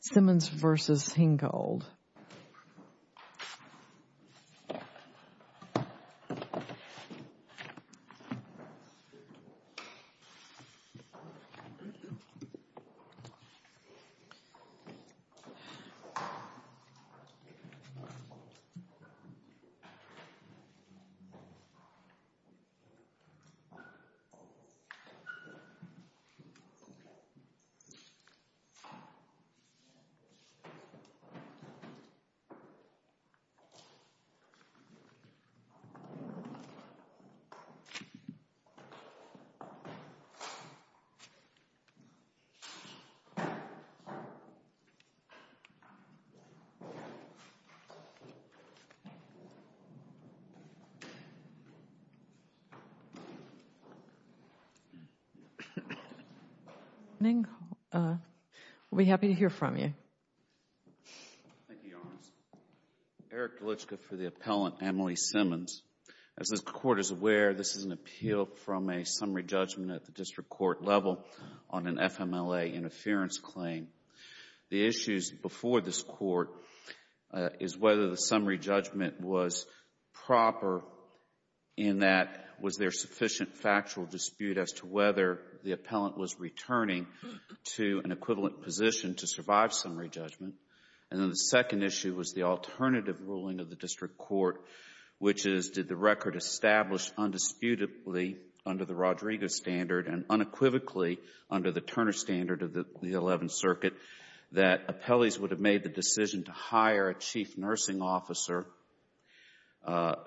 Simmons v. Henghold Thank you, Your Honors. Eric Galichka for the appellant, Emily Simmons. As this Court is aware, this is an appeal from a summary judgment at the district court level on an FMLA interference claim. The issues before this Court is whether the summary judgment was proper in that was there sufficient factual dispute as to whether the appellant was returning to an equivalent position to survive summary judgment. And then the second issue was the alternative ruling of the district court, which is, did the record establish undisputably under the Rodrigo standard and unequivocally under the Turner standard of the Eleventh Circuit that appellees would have made the decision to hire a chief nursing officer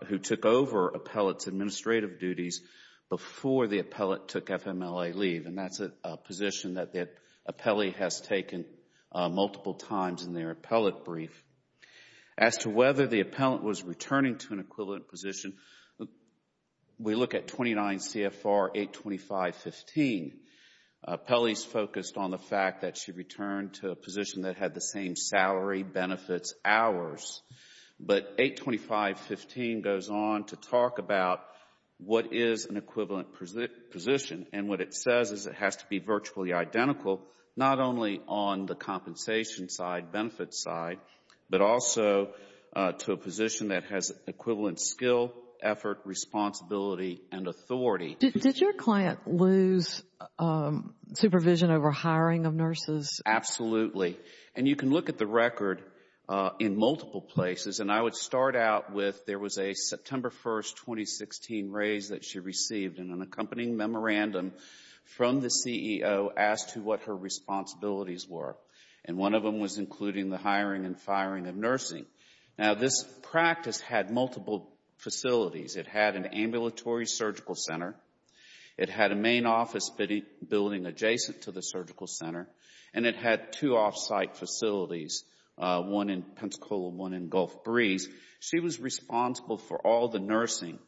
who took over appellate's administrative duties before the appellate took FMLA leave. And that's a position that the appellee has taken multiple times in their appellate brief. As to whether the appellant was returning to an equivalent position, we look at 29 CFR 825.15. Appellee's focused on the fact that she returned to a position that had the same salary, benefits, hours. But 825.15 goes on to talk about what is an equivalent position. And what it says is it has to be virtually identical, not only on the compensation side, benefits side, but also to a position that has equivalent skill, effort, responsibility, and authority. Did your client lose supervision over hiring of nurses? Absolutely. And you can look at the record in multiple places. And I would start out with there was a September 1, 2016, raise that she received in an accompanying memorandum from the CEO as to what her responsibilities were. And one of them was including the hiring and firing of nursing. Now, this practice had multiple facilities. It had an ambulatory surgical center. It had a main office building adjacent to the surgical center. And it had two off-site facilities, one in Pensacola, one in Gulf Breeze. She was responsible for all the nursing,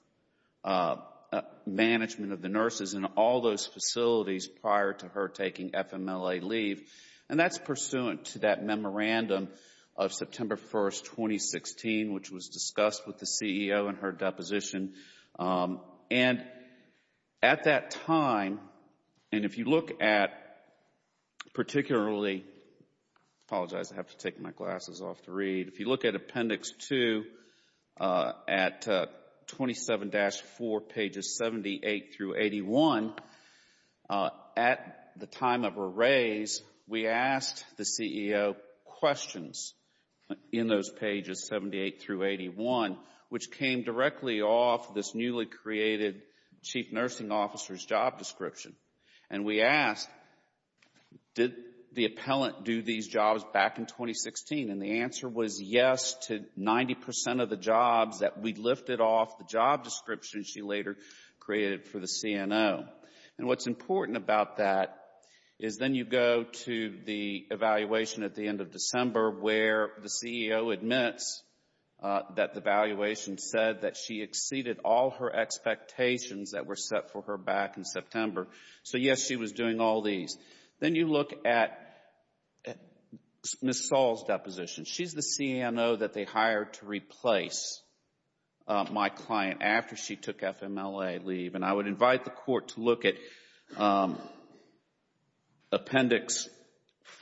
management of the nurses in all those facilities prior to her taking FMLA leave. And that's pursuant to that memorandum of September 1, 2016, which was discussed with the CEO in her deposition. And at that time, and if you look at particularly, I apologize, I have to take my glasses off to read. If you look at Appendix 2 at 27-4, pages 78 through 81, which came directly off this newly created chief nursing officer's job description. And we asked did the appellant do these jobs back in 2016? And the answer was yes to 90 percent of the jobs that we lifted off the job description she later created for the CNO. And what's important about that is then you go to the evaluation at the end of December where the evaluation said that she exceeded all her expectations that were set for her back in September. So yes, she was doing all these. Then you look at Ms. Saul's deposition. She's the CNO that they hired to replace my client after she took FMLA leave. And I would invite the Court to look at Appendix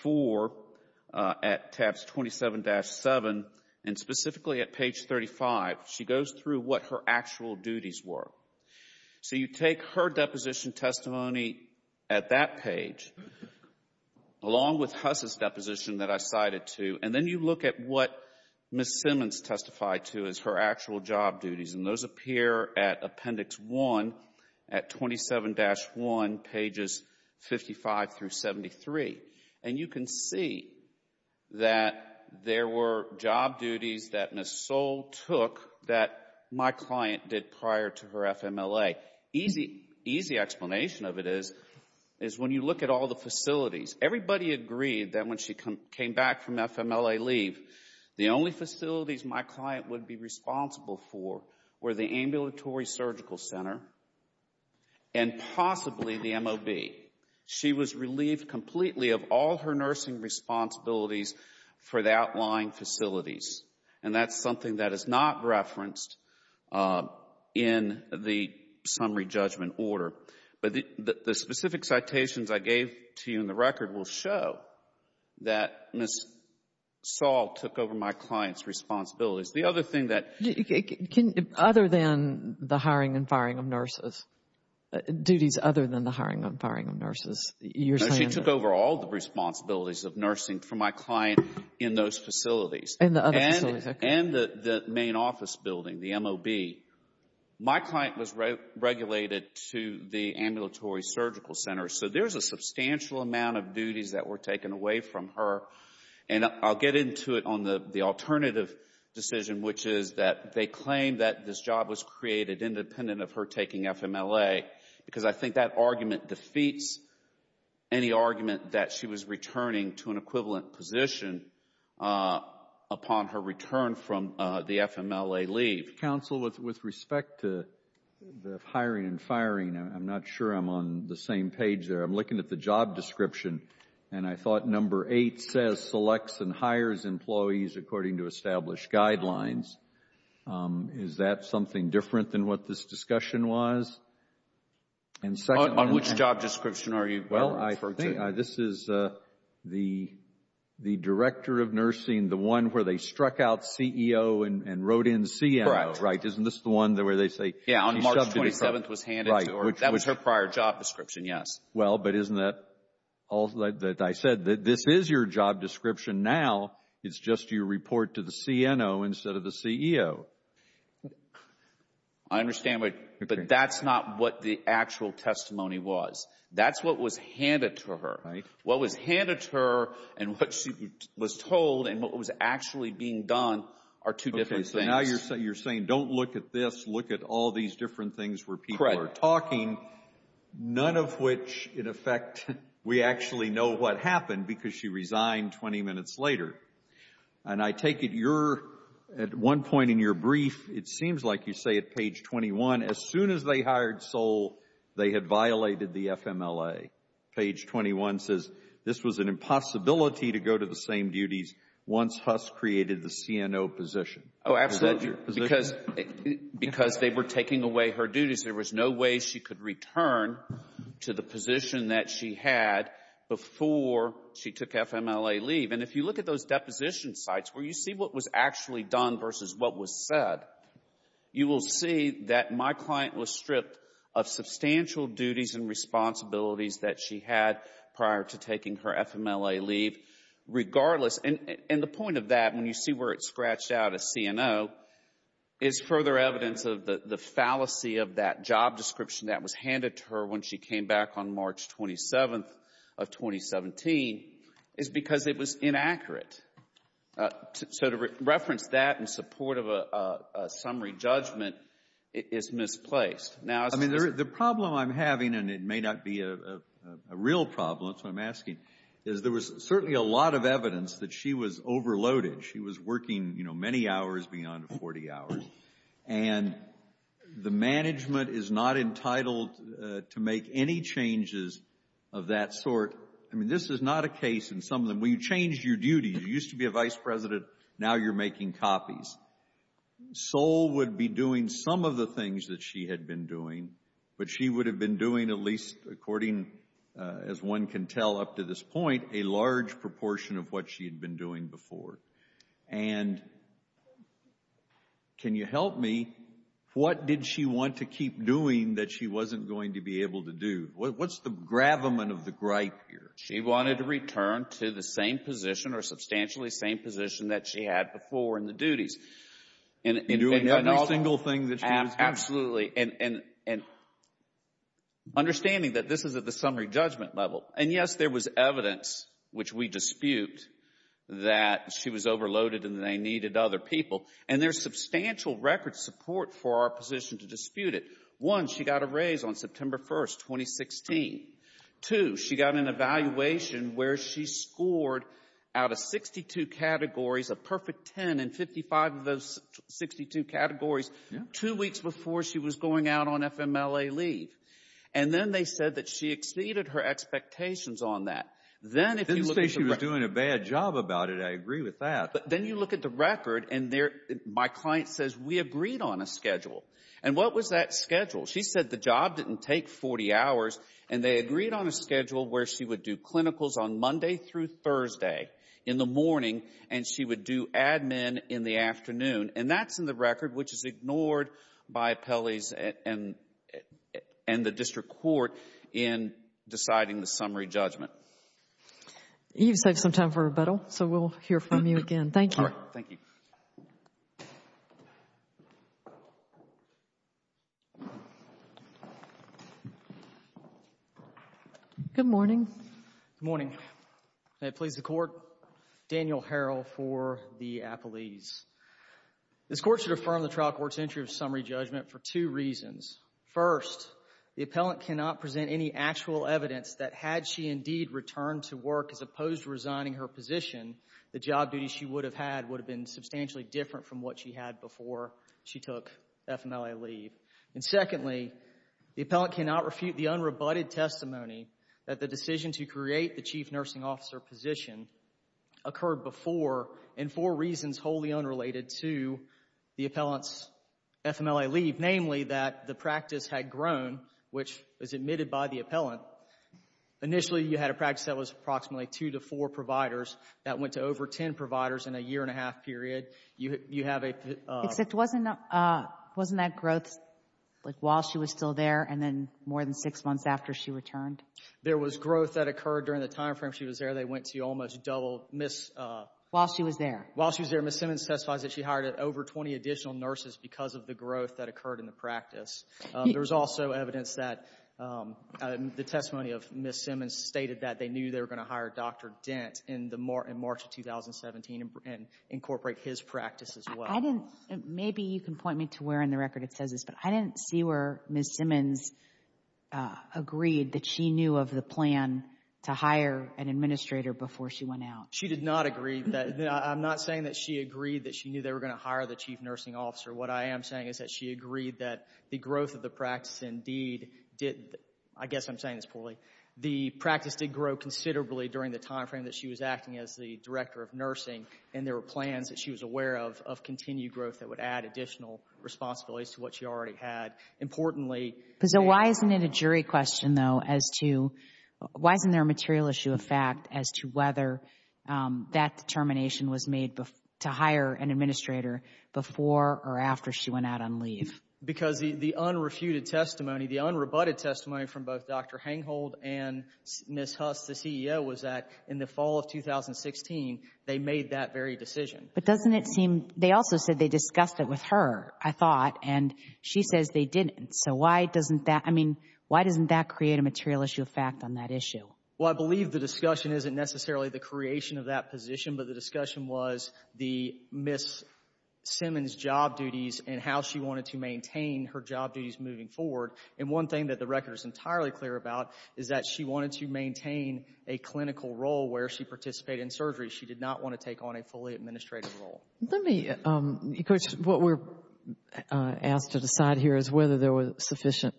4 at tabs 27-7, and specifically at page 35, she goes through what her actual duties were. So you take her deposition testimony at that page, along with Huss's deposition that I cited too, and then you look at what Ms. Simmons testified to as her actual job duties. And those appear at Appendix 1 at 27-1, pages 55 through 73. And you can see that there were job duties that Ms. Saul took that my client did prior to her FMLA. Easy explanation of it is when you look at all the facilities, everybody agreed that when she came back from FMLA leave, the only facilities my client would be responsible for were the ambulatory surgical center and possibly the MOB. She was relieved completely of all her nursing responsibilities for the outlying facilities. And that's something that is not referenced in the summary judgment order. But the specific citations I gave to you in the record will show that Ms. Saul took over my client's responsibilities. The other thing that... Other than the hiring and firing of nurses, duties other than the hiring and firing of nurses, you're saying... No, she took over all the responsibilities of nursing for my client in those facilities. In the other facilities, okay. And the main office building, the MOB. My client was regulated to the ambulatory surgical center, so there's a substantial amount of duties that were taken away from her. And I'll get into it on the alternative decision, which is that they claim that this job was created independent of her taking FMLA, because I think that argument defeats any argument that she was returning to an equivalent position upon her return from the FMLA leave. Counsel, with respect to the hiring and firing, I'm not sure I'm on the same page there. I'm says selects and hires employees according to established guidelines. Is that something different than what this discussion was? And second... On which job description are you referring to? Well, I think this is the director of nursing, the one where they struck out CEO and wrote in CMO. Correct. Right. Isn't this the one where they say... Yeah, on March 27th was handed to her. That was her prior job description, yes. Well, but isn't that... Like I said, this is your job description now. It's just you report to the CNO instead of the CEO. I understand, but that's not what the actual testimony was. That's what was handed to her. What was handed to her and what she was told and what was actually being done are two different things. Okay, so now you're saying, don't look at this, look at all these different things where people are talking. Correct. None of which, in effect, we actually know what happened because she resigned 20 minutes later. And I take it you're, at one point in your brief, it seems like you say at page 21, as soon as they hired Sohl, they had violated the FMLA. Page 21 says, this was an impossibility to go to the same duties once Huss created the CNO position. Oh, absolutely. Because they were taking away her duties. There was no way she could have returned to the position that she had before she took FMLA leave. And if you look at those deposition sites where you see what was actually done versus what was said, you will see that my client was stripped of substantial duties and responsibilities that she had prior to taking her FMLA leave regardless. And the point of that, when you see where it's scratched out as CNO, is further evidence of the fallacy of that job description that was handed to her when she came back on March 27th of 2017, is because it was inaccurate. So to reference that in support of a summary judgment is misplaced. Now, as far as the problem I'm having, and it may not be a real problem, that's what I'm asking, is there was certainly a lot of evidence that she was And the management is not entitled to make any changes of that sort. I mean, this is not a case in some of them where you change your duties. You used to be a vice president, now you're making copies. Sol would be doing some of the things that she had been doing, but she would have been doing at least according, as one can tell up to this point, a large proportion of what she had been doing before. And can you help me, what did she want to keep doing that she wasn't going to be able to do? What's the gravamen of the gripe here? She wanted to return to the same position or substantially same position that she had before in the duties. In doing every single thing that she was doing? Absolutely. And understanding that this is at the summary judgment level. And yes, there was evidence, which we dispute, that she was overloaded and they needed other people. And there's substantial record support for our position to dispute it. One, she got a raise on September 1st, 2016. Two, she got an evaluation where she scored out of 62 categories a perfect 10 in 55 of those 62 categories two weeks before she was going out on FMLA leave. And then they said that she exceeded her expectations on that. Didn't say she was doing a bad job about it. I agree with that. But then you look at the record and my client says, we agreed on a schedule. And what was that schedule? She said the job didn't take 40 hours and they agreed on a schedule where she would do clinicals on Monday through Thursday in the morning and she would do admin in the in deciding the summary judgment. You've saved some time for rebuttal, so we'll hear from you again. Thank you. Thank you. Good morning. Good morning. May it please the Court. Daniel Harrell for the appellees. This Court should affirm the trial court's entry of summary judgment for two reasons. First, the appellant cannot present any actual evidence that had she indeed returned to work as opposed to resigning her position, the job duty she would have had would have been substantially different from what she had before she took FMLA leave. And secondly, the appellant cannot refute the unrebutted testimony that the decision to create the chief nursing officer position occurred before and for reasons wholly unrelated to the appellant's FMLA leave, namely that the practice had grown, which was admitted by the appellant. Initially, you had a practice that was approximately two to four providers that went to over ten providers in a year and a half period. You have a Except wasn't wasn't that growth like while she was still there and then more than six months after she returned? There was growth that occurred during the time frame she was there. They went to almost double Ms. While she was there. While she was there, Ms. Simmons testifies that she hired over 20 additional nurses because of the growth that occurred in the practice. There was also evidence that the testimony of Ms. Simmons stated that they knew they were going to hire Dr. Dent in March of 2017 and incorporate his practice as well. I didn't. Maybe you can point me to where in the record it says this, but I didn't see where Ms. Simmons agreed that she knew of the plan to hire an administrator before she went out. She did not agree that. I'm not saying that she agreed that she knew they were going to hire the chief nursing officer. What I am saying is that she agreed that the growth of the practice indeed did. I guess I'm saying this poorly. The practice did grow considerably during the time frame that she was acting as the director of nursing, and there were plans that she was aware of of continued growth that would add additional responsibilities to what she already had. Importantly, So why isn't it a jury question, though, as to why isn't there a material issue of fact as to whether that determination was made to hire an administrator before or after she went out on leave? Because the unrefuted testimony, the unrebutted testimony from both Dr. Henghold and Ms. Huss, the CEO, was that in the fall of 2016, they made that very decision. But doesn't it seem, they also said they discussed it with her, I thought, and she says they didn't. So why doesn't that, I mean, why doesn't that create a material issue of fact on that issue? Well, I believe the discussion isn't necessarily the creation of that position, but the discussion was the Ms. Simmons' job duties and how she wanted to maintain her job duties moving forward. And one thing that the record is entirely clear about is that she wanted to maintain a clinical role where she participated in surgery. She did not want to take on a fully administrative role. Let me, Coach, what we're asked to decide here is whether there were sufficient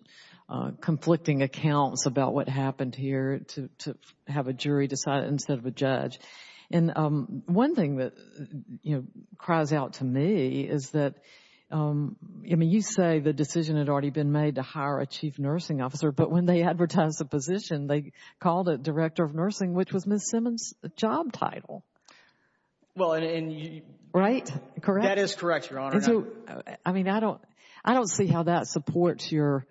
conflicting accounts about what happened here to have a jury decide instead of a judge. And one thing that, you know, cries out to me is that, I mean, you say the decision had already been made to hire a chief nursing officer, but when they advertised the position, they called it director of nursing, which was Ms. Simmons' job title. Well, and you... Right? Correct? That is correct, Your Honor. I mean, I don't, I don't see how that supports your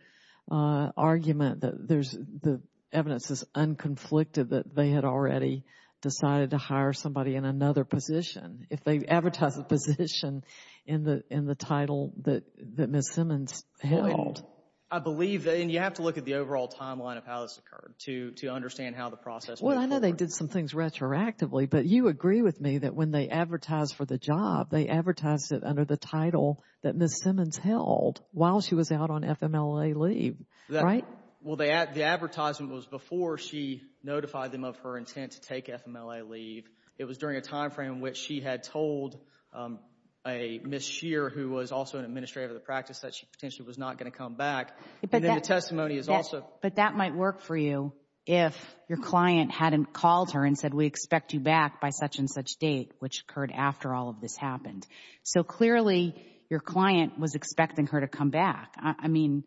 argument that there's, the evidence is unconflicted that they had already decided to hire somebody in another position if they advertise a position in the title that Ms. Simmons held. I believe, and you have to look at the overall timeline of how this occurred to understand how the process... Well, I know they did some things retroactively, but you agree with me that when they advertised for the job, they advertised it under the title that Ms. Simmons held while she was out on FMLA leave, right? Well, the advertisement was before she notified them of her intent to take FMLA leave. It was during a time frame in which she had told a Ms. Shearer, who was also an administrator of the practice, that she potentially was not going to come back, and then the testimony is also... But that might work for you if your client hadn't called her and said, we expect you back by such-and-such date, which occurred after all of this happened. So clearly, your client was expecting her to come back. I mean...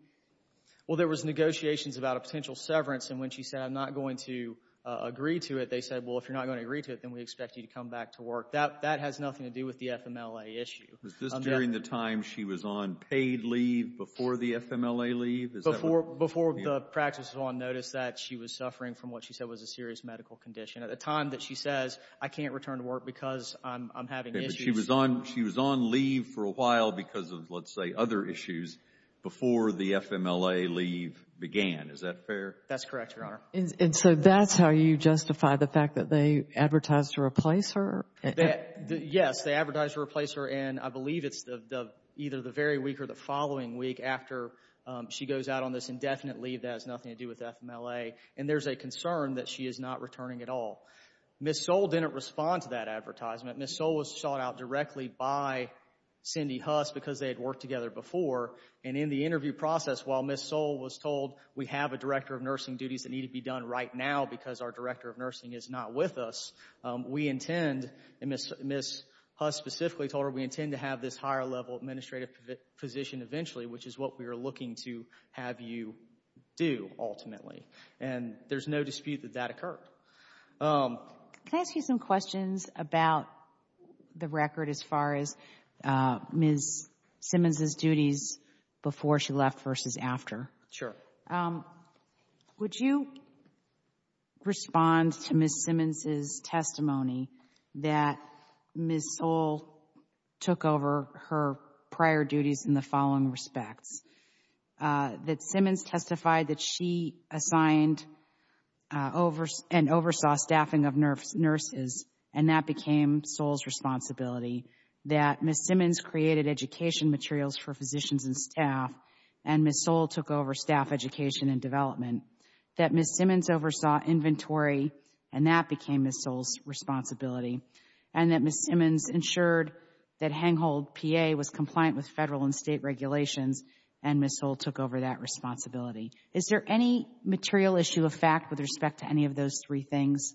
Well, there was negotiations about a potential severance, and when she said, I'm not going to agree to it, they said, well, if you're not going to agree to it, then we expect you to come back to work. That has nothing to do with the FMLA issue. Was this during the time she was on paid leave before the FMLA leave? Before the practice was on notice that she was suffering from what she said was a serious medical condition. At the time that she says, I can't return to work because I'm having issues... But she was on leave for a while because of, let's say, other issues before the FMLA leave began. Is that fair? That's correct, Your Honor. And so that's how you justify the fact that they advertised to replace her? Yes, they advertised to replace her, and I believe it's either the very week or the following week after she goes out on this indefinite leave that has nothing to do with the FMLA. And there's a concern that she is not returning at all. Ms. Soule didn't respond to that advertisement. Ms. Soule was sought out directly by Cindy Huss because they had worked together before. And in the interview process, while Ms. Soule was told, we have a director of nursing duties that need to be done right now because our director of nursing is not with us. We intend, and Ms. Huss specifically told her, we intend to have this higher level administrative position eventually, which is what we are looking to have you do ultimately. And there's no dispute that that occurred. Can I ask you some questions about the record as far as Ms. Simmons' duties before she left versus after? Sure. Would you respond to Ms. Simmons' testimony that Ms. Soule took over her prior duties in the following respects? That Simmons testified that she assigned and oversaw staffing of nurses, and that became Soule's responsibility. That Ms. Simmons created education materials for physicians and staff, and Ms. Soule took over staff education and development. That Ms. Simmons oversaw inventory, and that became Ms. Soule's responsibility. And that Ms. Simmons ensured that Hanghold, PA, was compliant with federal and state regulations, and Ms. Soule took over that responsibility. Is there any material issue of fact with respect to any of those three things?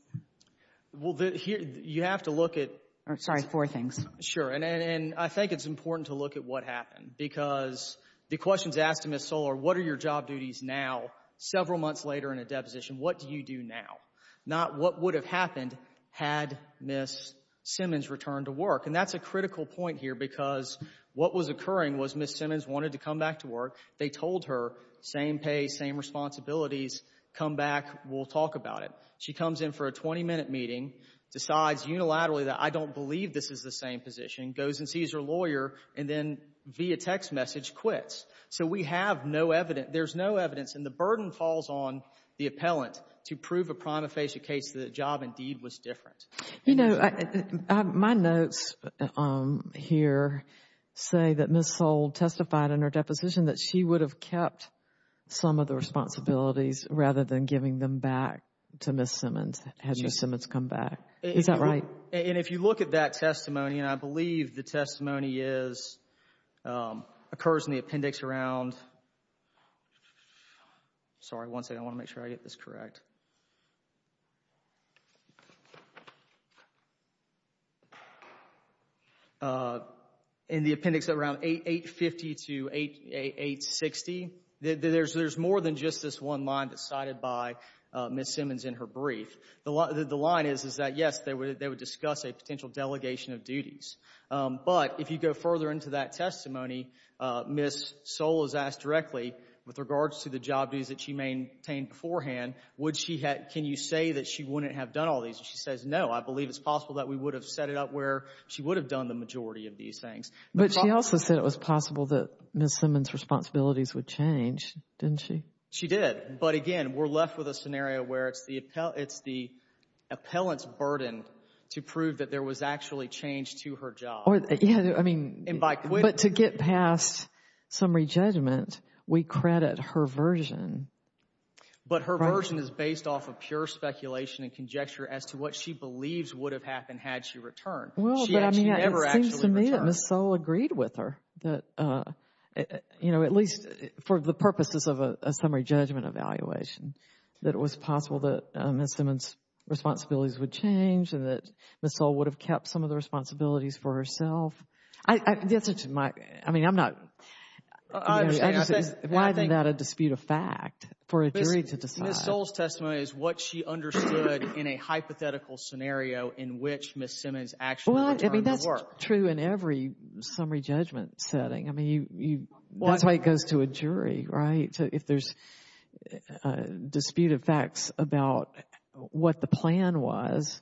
Well, you have to look at— Sorry, four things. Sure, and I think it's important to look at what happened because the questions asked to Ms. Soule are, what are your job duties now, several months later in a deposition? What do you do now? Not what would have happened had Ms. Simmons returned to work, and that's a critical point here because what was occurring was Ms. Simmons wanted to come back to work. They told her, same pay, same responsibilities. Come back. We'll talk about it. She comes in for a 20-minute meeting, decides unilaterally that I don't believe this is the same position, goes and sees her lawyer, and then via text message quits. So we have no evidence. There's no evidence, and the burden falls on the appellant to prove a prima facie case that the job indeed was different. You know, my notes here say that Ms. Soule testified in her deposition that she would have kept some of the responsibilities rather than giving them back to Ms. Simmons had Ms. Simmons come back. Is that right? And if you look at that testimony, and I believe the testimony is—occurs in the appendix around—sorry, one second, I want to make sure I get this correct—in the appendix around 850 to 860, there's more than just this one line that's cited by Ms. Simmons in her brief. The line is that, yes, they would discuss a potential delegation of duties, but if you go further into that testimony, Ms. Soule is asked directly with regards to the job duties that she maintained beforehand, would she have—can you say that she wouldn't have done all these? She says, no, I believe it's possible that we would have set it up where she would have done the majority of these things. But she also said it was possible that Ms. Simmons' responsibilities would change, didn't she? She did, but again, we're left with a scenario where it's the appellant's burden to prove that there was actually change to her job. Yeah, I mean, but to get past summary judgment, we credit her version. But her version is based off of pure speculation and conjecture as to what she believes would have happened had she returned. Well, but I mean, it seems to me that Ms. Soule agreed with her that, you know, at least for the purposes of a summary judgment evaluation, that it was possible that Ms. Simmons' responsibilities would change and that Ms. Soule would have kept some of the responsibilities for herself. The answer to my—I mean, I'm not— I understand. Why is that a dispute of fact for a jury to decide? Ms. Soule's testimony is what she understood in a hypothetical scenario in which Ms. Simmons actually returned to work. Well, I mean, that's true in every summary judgment setting. I mean, that's why it goes to a jury, right? If there's a dispute of facts about what the plan was,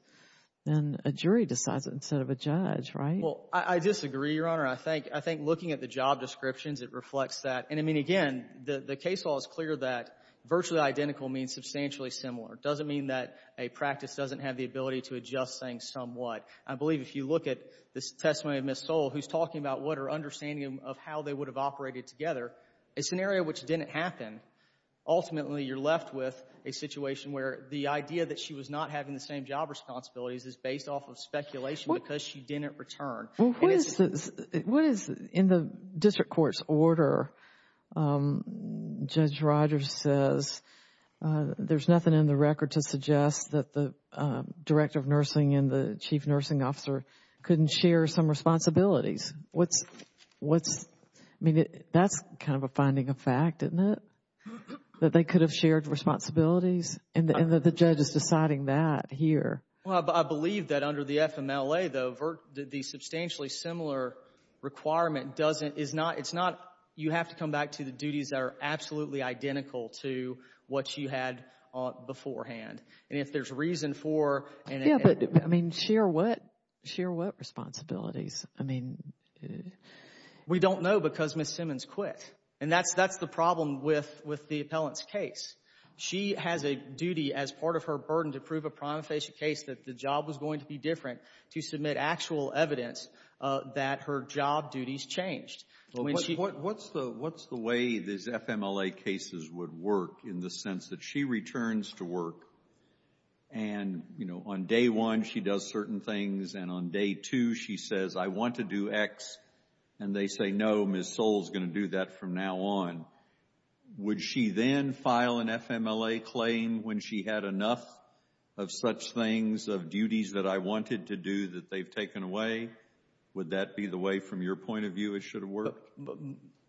then a jury decides it instead of a judge, right? Well, I disagree, Your Honor. I think looking at the job descriptions, it reflects that. And, I mean, again, the case law is clear that virtually identical means substantially similar. It doesn't mean that a practice doesn't have the ability to adjust things somewhat. I believe if you look at this testimony of Ms. Soule, who's talking about what her understanding of how they would have operated together, a scenario which didn't happen, ultimately you're left with a situation where the idea that she was not having the same job responsibilities is based off of speculation because she didn't return. What is in the district court's order, Judge Rogers says, there's nothing in the record to suggest that the Director of Nursing and the Chief Nursing Officer couldn't share some responsibilities. What's, I mean, that's kind of a finding of fact, isn't it? That they could have shared responsibilities and that the judge is deciding that here. Well, I believe that under the FMLA, though, the substantially similar requirement doesn't, is not, it's not, you have to come back to the duties that are absolutely identical to what you had beforehand. And if there's reason for. Yeah, but, I mean, share what? Share what responsibilities? I mean. We don't know because Ms. Simmons quit. And that's, that's the problem with, with the appellant's case. She has a duty as part of her burden to prove a prima facie case that the job was going to be different to submit actual evidence that her job duties changed. But what, what's the, what's the way these FMLA cases would work in the sense that she returns to work and, you know, on day one she does certain things and on day two she says, I want to do X, and they say, no, Ms. Soule's going to do that from now on. Would she then file an FMLA claim when she had enough of such things of duties that I wanted to do that they've taken away? Would that be the way from your point of view it should have worked?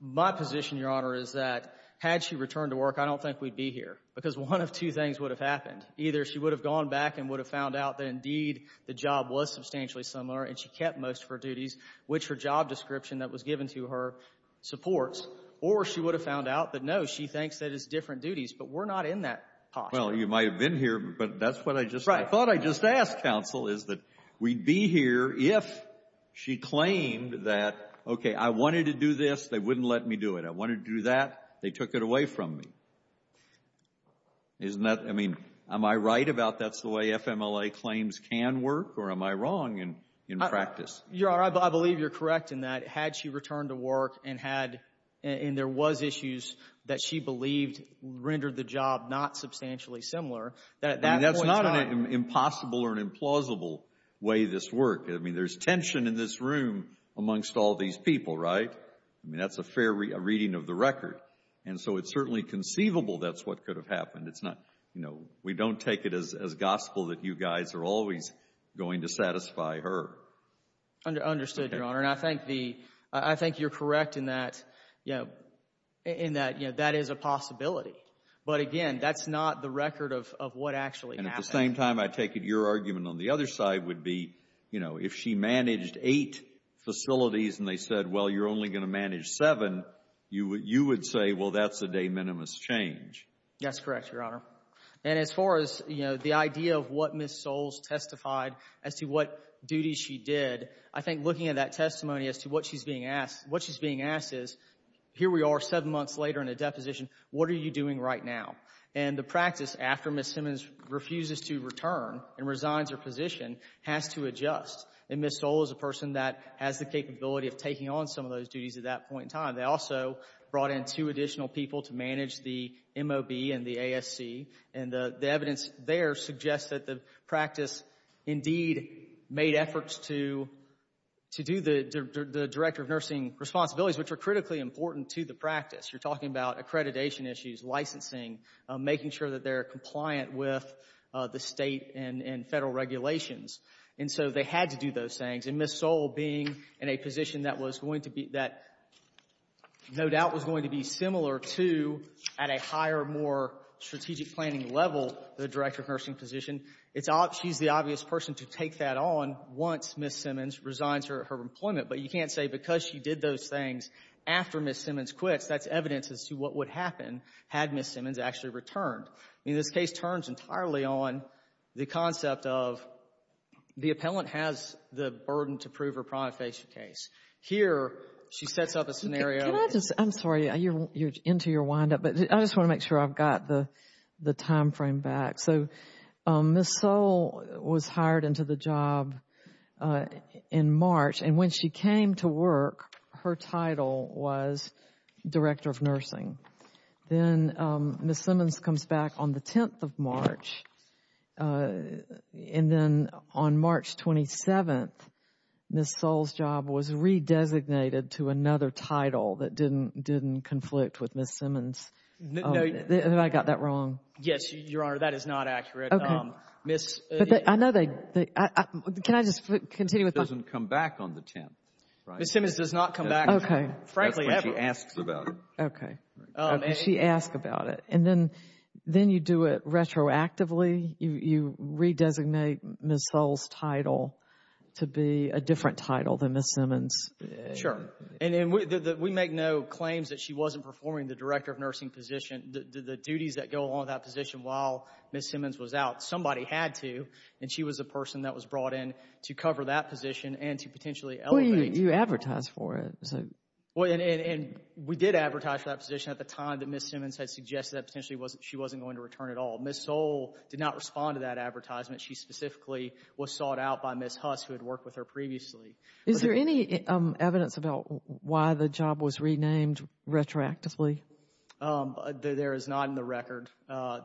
My position, Your Honor, is that had she returned to work, I don't think we'd be here because one of two things would have happened. Either she would have gone back and would have found out that indeed the job was substantially similar and she kept most of her duties, which her job description that was given to her supports, or she would have found out that, no, she thinks that it's different duties, but we're not in that position. Well, you might have been here, but that's what I just, I thought I just asked, counsel, is that we'd be here if she claimed that, okay, I wanted to do this, they wouldn't let me do it. I wanted to do that, they took it away from me. Isn't that, I mean, am I right about that's the way FMLA claims can work, or am I wrong in practice? Your Honor, I believe you're correct in that. Had she returned to work and had, and there was issues that she believed rendered the job not substantially similar, that at that point in time— I mean, that's not an impossible or an implausible way this worked. I mean, there's tension in this room amongst all these people, right? I mean, that's a fair reading of the record. And so it's certainly conceivable that's what could have happened. It's not, you know, we don't take it as gospel that you guys are always going to satisfy her. Understood, Your Honor. And I think the, I think you're correct in that, you know, in that, you know, that is a possibility. But again, that's not the record of what actually happened. And at the same time, I take it your argument on the other side would be, you know, if she managed eight facilities and they said, well, you're only going to manage seven, you would say, well, that's a de minimis change. That's correct, Your Honor. And as far as, you know, the idea of what Ms. Soles testified as to what duties she did, I think looking at that testimony as to what she's being asked, what she's being asked is, here we are seven months later in a deposition, what are you doing right now? And the practice after Ms. Simmons refuses to return and resigns her position has to adjust. And Ms. Soles is a person that has the capability of taking on some of those duties at that point in time. They also brought in two additional people to manage the MOB and the ASC. And the evidence there suggests that the practice indeed made efforts to do the director of nursing responsibilities, which are critically important to the practice. You're talking about accreditation issues, licensing, making sure that they're compliant with the state and federal regulations. And so they had to do those things. And Ms. Soles being in a position that was going to be — that no doubt was going to be similar to, at a higher, more strategic planning level, the director of nursing position, it's — she's the obvious person to take that on once Ms. Simmons resigns her employment. But you can't say because she did those things after Ms. Simmons quits. That's evidence as to what would happen had Ms. Simmons actually returned. I mean, this case turns entirely on the concept of the appellant has the burden to prove her prima facie case. Here, she sets up a scenario — Can I just — I'm sorry, you're into your windup, but I just want to make sure I've got the timeframe back. So Ms. Soles was hired into the job in March. Then Ms. Simmons comes back on the 10th of March. And then on March 27th, Ms. Soles' job was re-designated to another title that didn't conflict with Ms. Simmons. Have I got that wrong? Yes, Your Honor. That is not accurate. Okay. Ms. — I know they — can I just continue with my — Doesn't come back on the 10th, right? Ms. Simmons does not come back, frankly, ever. That's when she asks about it. Okay. She asks about it. And then you do it retroactively. You re-designate Ms. Soles' title to be a different title than Ms. Simmons. Sure. And we make no claims that she wasn't performing the director of nursing position. The duties that go along with that position while Ms. Simmons was out, somebody had to, and she was the person that was brought in to cover that position and to potentially elevate — You advertised for it. Well, and we did advertise for that position at the time that Ms. Simmons had suggested that potentially she wasn't going to return at all. Ms. Soles did not respond to that advertisement. She specifically was sought out by Ms. Huss, who had worked with her previously. Is there any evidence about why the job was renamed retroactively? There is not in the record. I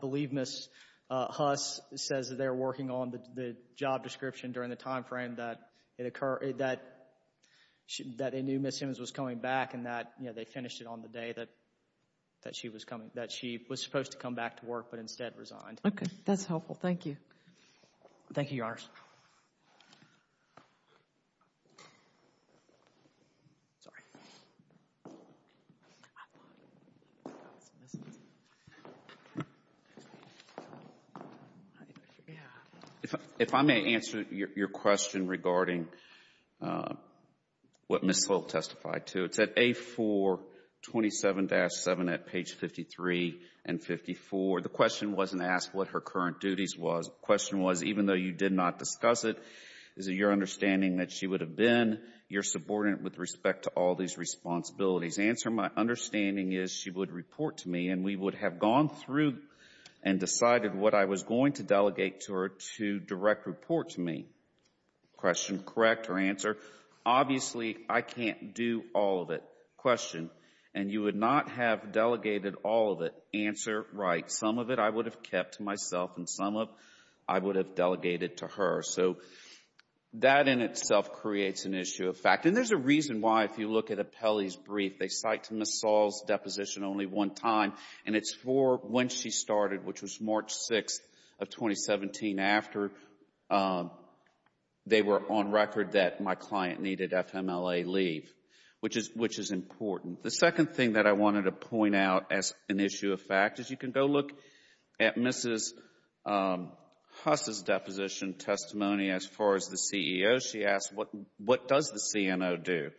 believe Ms. Huss says that they're working on the job description during the time frame that it occurred — that they knew Ms. Simmons was coming back and that, you know, they finished it on the day that she was coming — that she was supposed to come back to work but instead resigned. Okay. That's helpful. Thank you. Thank you, Your Honors. If I may answer your question regarding what Ms. Soles testified to. It's at A427-7 at page 53 and 54. The question wasn't asked what her current duties was. Question was, even though you did not discuss it, is it your understanding that she would have been your subordinate with respect to all these responsibilities? Answer, my understanding is she would report to me and we would have gone through and decided what I was going to delegate to her to direct report to me. Question, correct or answer? Obviously, I can't do all of it. Question, and you would not have delegated all of it. Answer, right. Some of it I would have kept to myself and some of it I would have delegated to her. So, that in itself creates an issue of fact. And there's a reason why, if you look at Apelli's brief, they cite to Ms. Soles' deposition only one time and it's for when she started, which was March 6th of 2017, after they were on record that my client needed FMLA leave, which is important. The second thing that I wanted to point out as an issue of fact is you can go look at Mrs. Huss' deposition testimony as far as the CEO. She asked, what does the CNO do?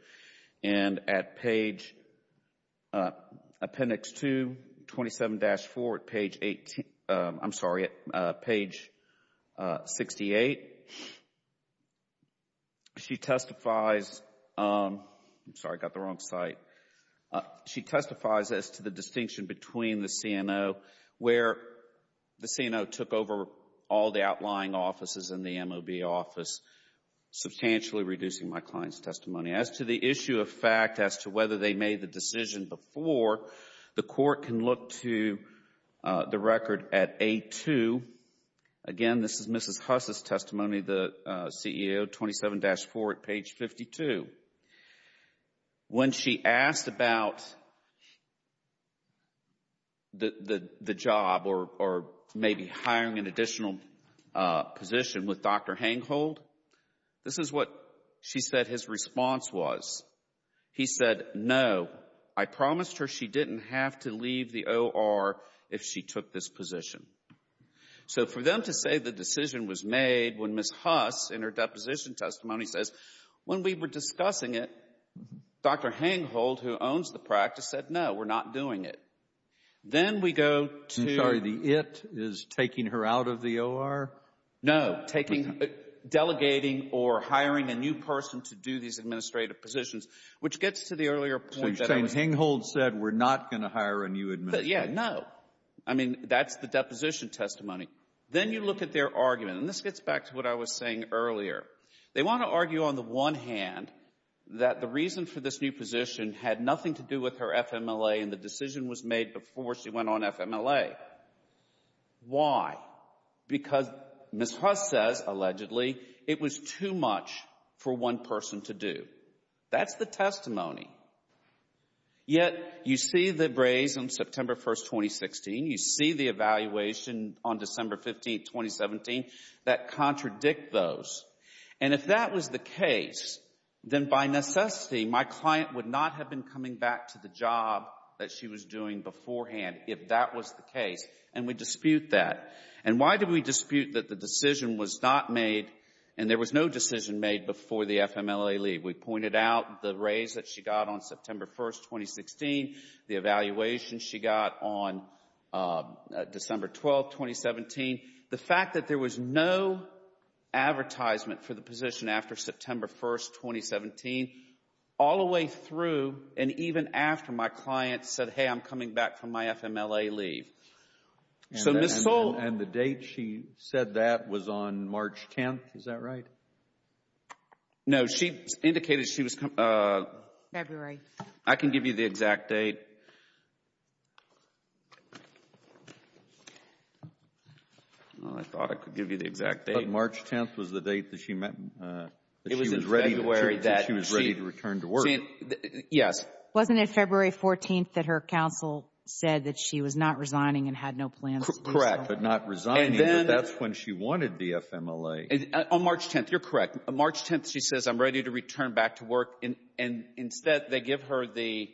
And at page, appendix 2, 27-4, at page 18, I'm sorry, at page 68, she testifies, I'm sorry, I got the wrong site. She testifies as to the distinction between the CNO where the CNO took over all the outlying offices in the MOB office, substantially reducing my client's testimony. As to the issue of fact, as to whether they made the decision before, the court can look to the record at A2. Again, this is Mrs. Huss' testimony, the CEO, 27-4 at page 52. When she asked about the job or maybe hiring an additional position with Dr. Hanghold, this is what she said his response was. He said, no, I promised her she didn't have to leave the OR if she took this position. So for them to say the decision was made when Mrs. Huss, in her deposition testimony, says, when we were discussing it, Dr. Hanghold, who owns the practice, said, no, we're not doing it. Then we go to — I'm sorry, the it is taking her out of the OR? No, taking, delegating or hiring a new person to do these administrative positions, which gets to the earlier point that — So you're saying Hanghold said, we're not going to hire a new administrator? Yeah, no. I mean, that's the deposition testimony. Then you look at their argument, and this gets back to what I was saying earlier. They want to argue on the one hand that the reason for this new position had nothing to do with her FMLA and the decision was made before she went on FMLA. Why? Because Mrs. Huss says, allegedly, it was too much for one person to do. That's the testimony. Yet, you see the raise on September 1, 2016. You see the evaluation on December 15, 2017, that contradict those. And if that was the case, then by necessity, my client would not have been coming back to the job that she was doing beforehand if that was the case. And we dispute that. And why do we dispute that the decision was not made, and there was no decision made before the FMLA leave? We pointed out the raise that she got on September 1, 2016, the evaluation she got on December 12, 2017, the fact that there was no advertisement for the position after September 1, 2017, all the way through and even after my client said, hey, I'm coming back from my FMLA leave. So, Ms. Soule. And the date she said that was on March 10th. Is that right? No, she indicated she was coming. February. I can give you the exact date. Well, I thought I could give you the exact date. But March 10th was the date that she was ready to return to work. Yes. Wasn't it February 14th that her counsel said that she was not resigning and had no plans? Correct, but not resigning, but that's when she wanted the FMLA. On March 10th, you're correct. On March 10th, she says, I'm ready to return back to work, and instead they give her the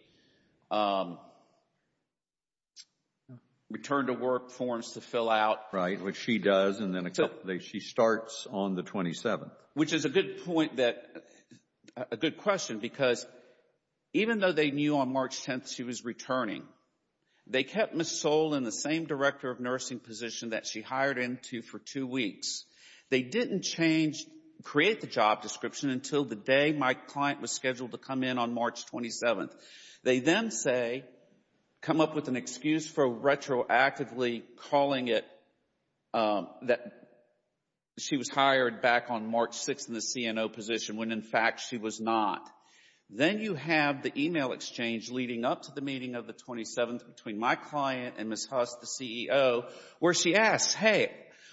return to work forms to fill out. Right, which she does, and then she starts on the 27th. Which is a good point that, a good question, because even though they knew on March 10th she was returning, they kept Ms. Soule in the same director of nursing position that she hired into for two weeks. They didn't change, create the job description until the day my client was scheduled to come in on March 27th. They then say, come up with an excuse for retroactively calling it that she was hired back on March 6th in the CNO position when, in fact, she was not. Then you have the email exchange leading up to the meeting of the 27th between my client and Ms. Huss, the CEO, where she asks, hey,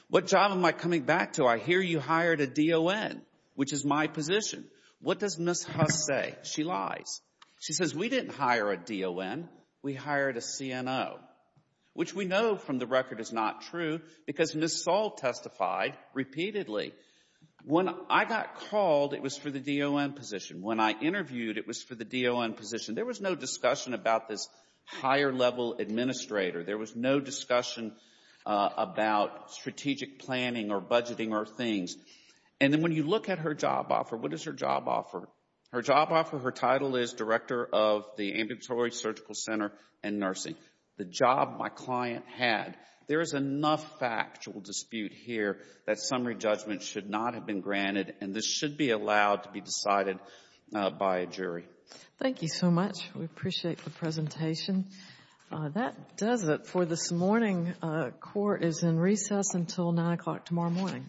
what job am I coming back to? I hear you hired a DON, which is my position. What does Ms. Huss say? She lies. She says, we didn't hire a DON, we hired a CNO, which we know from the record is not true because Ms. Soule testified repeatedly. When I got called, it was for the DON position. When I interviewed, it was for the DON position. There was no discussion about this higher level administrator. There was no discussion about strategic planning or budgeting or things. And then when you look at her job offer, what does her job offer? Her job offer, her title is director of the Ambulatory Surgical Center and Nursing. The job my client had. There is enough factual dispute here that summary judgment should not have been granted and this should be allowed to be decided by a jury. Thank you so much. We appreciate the presentation. That does it for this morning. Court is in recess until 9 o'clock tomorrow morning. Thank you.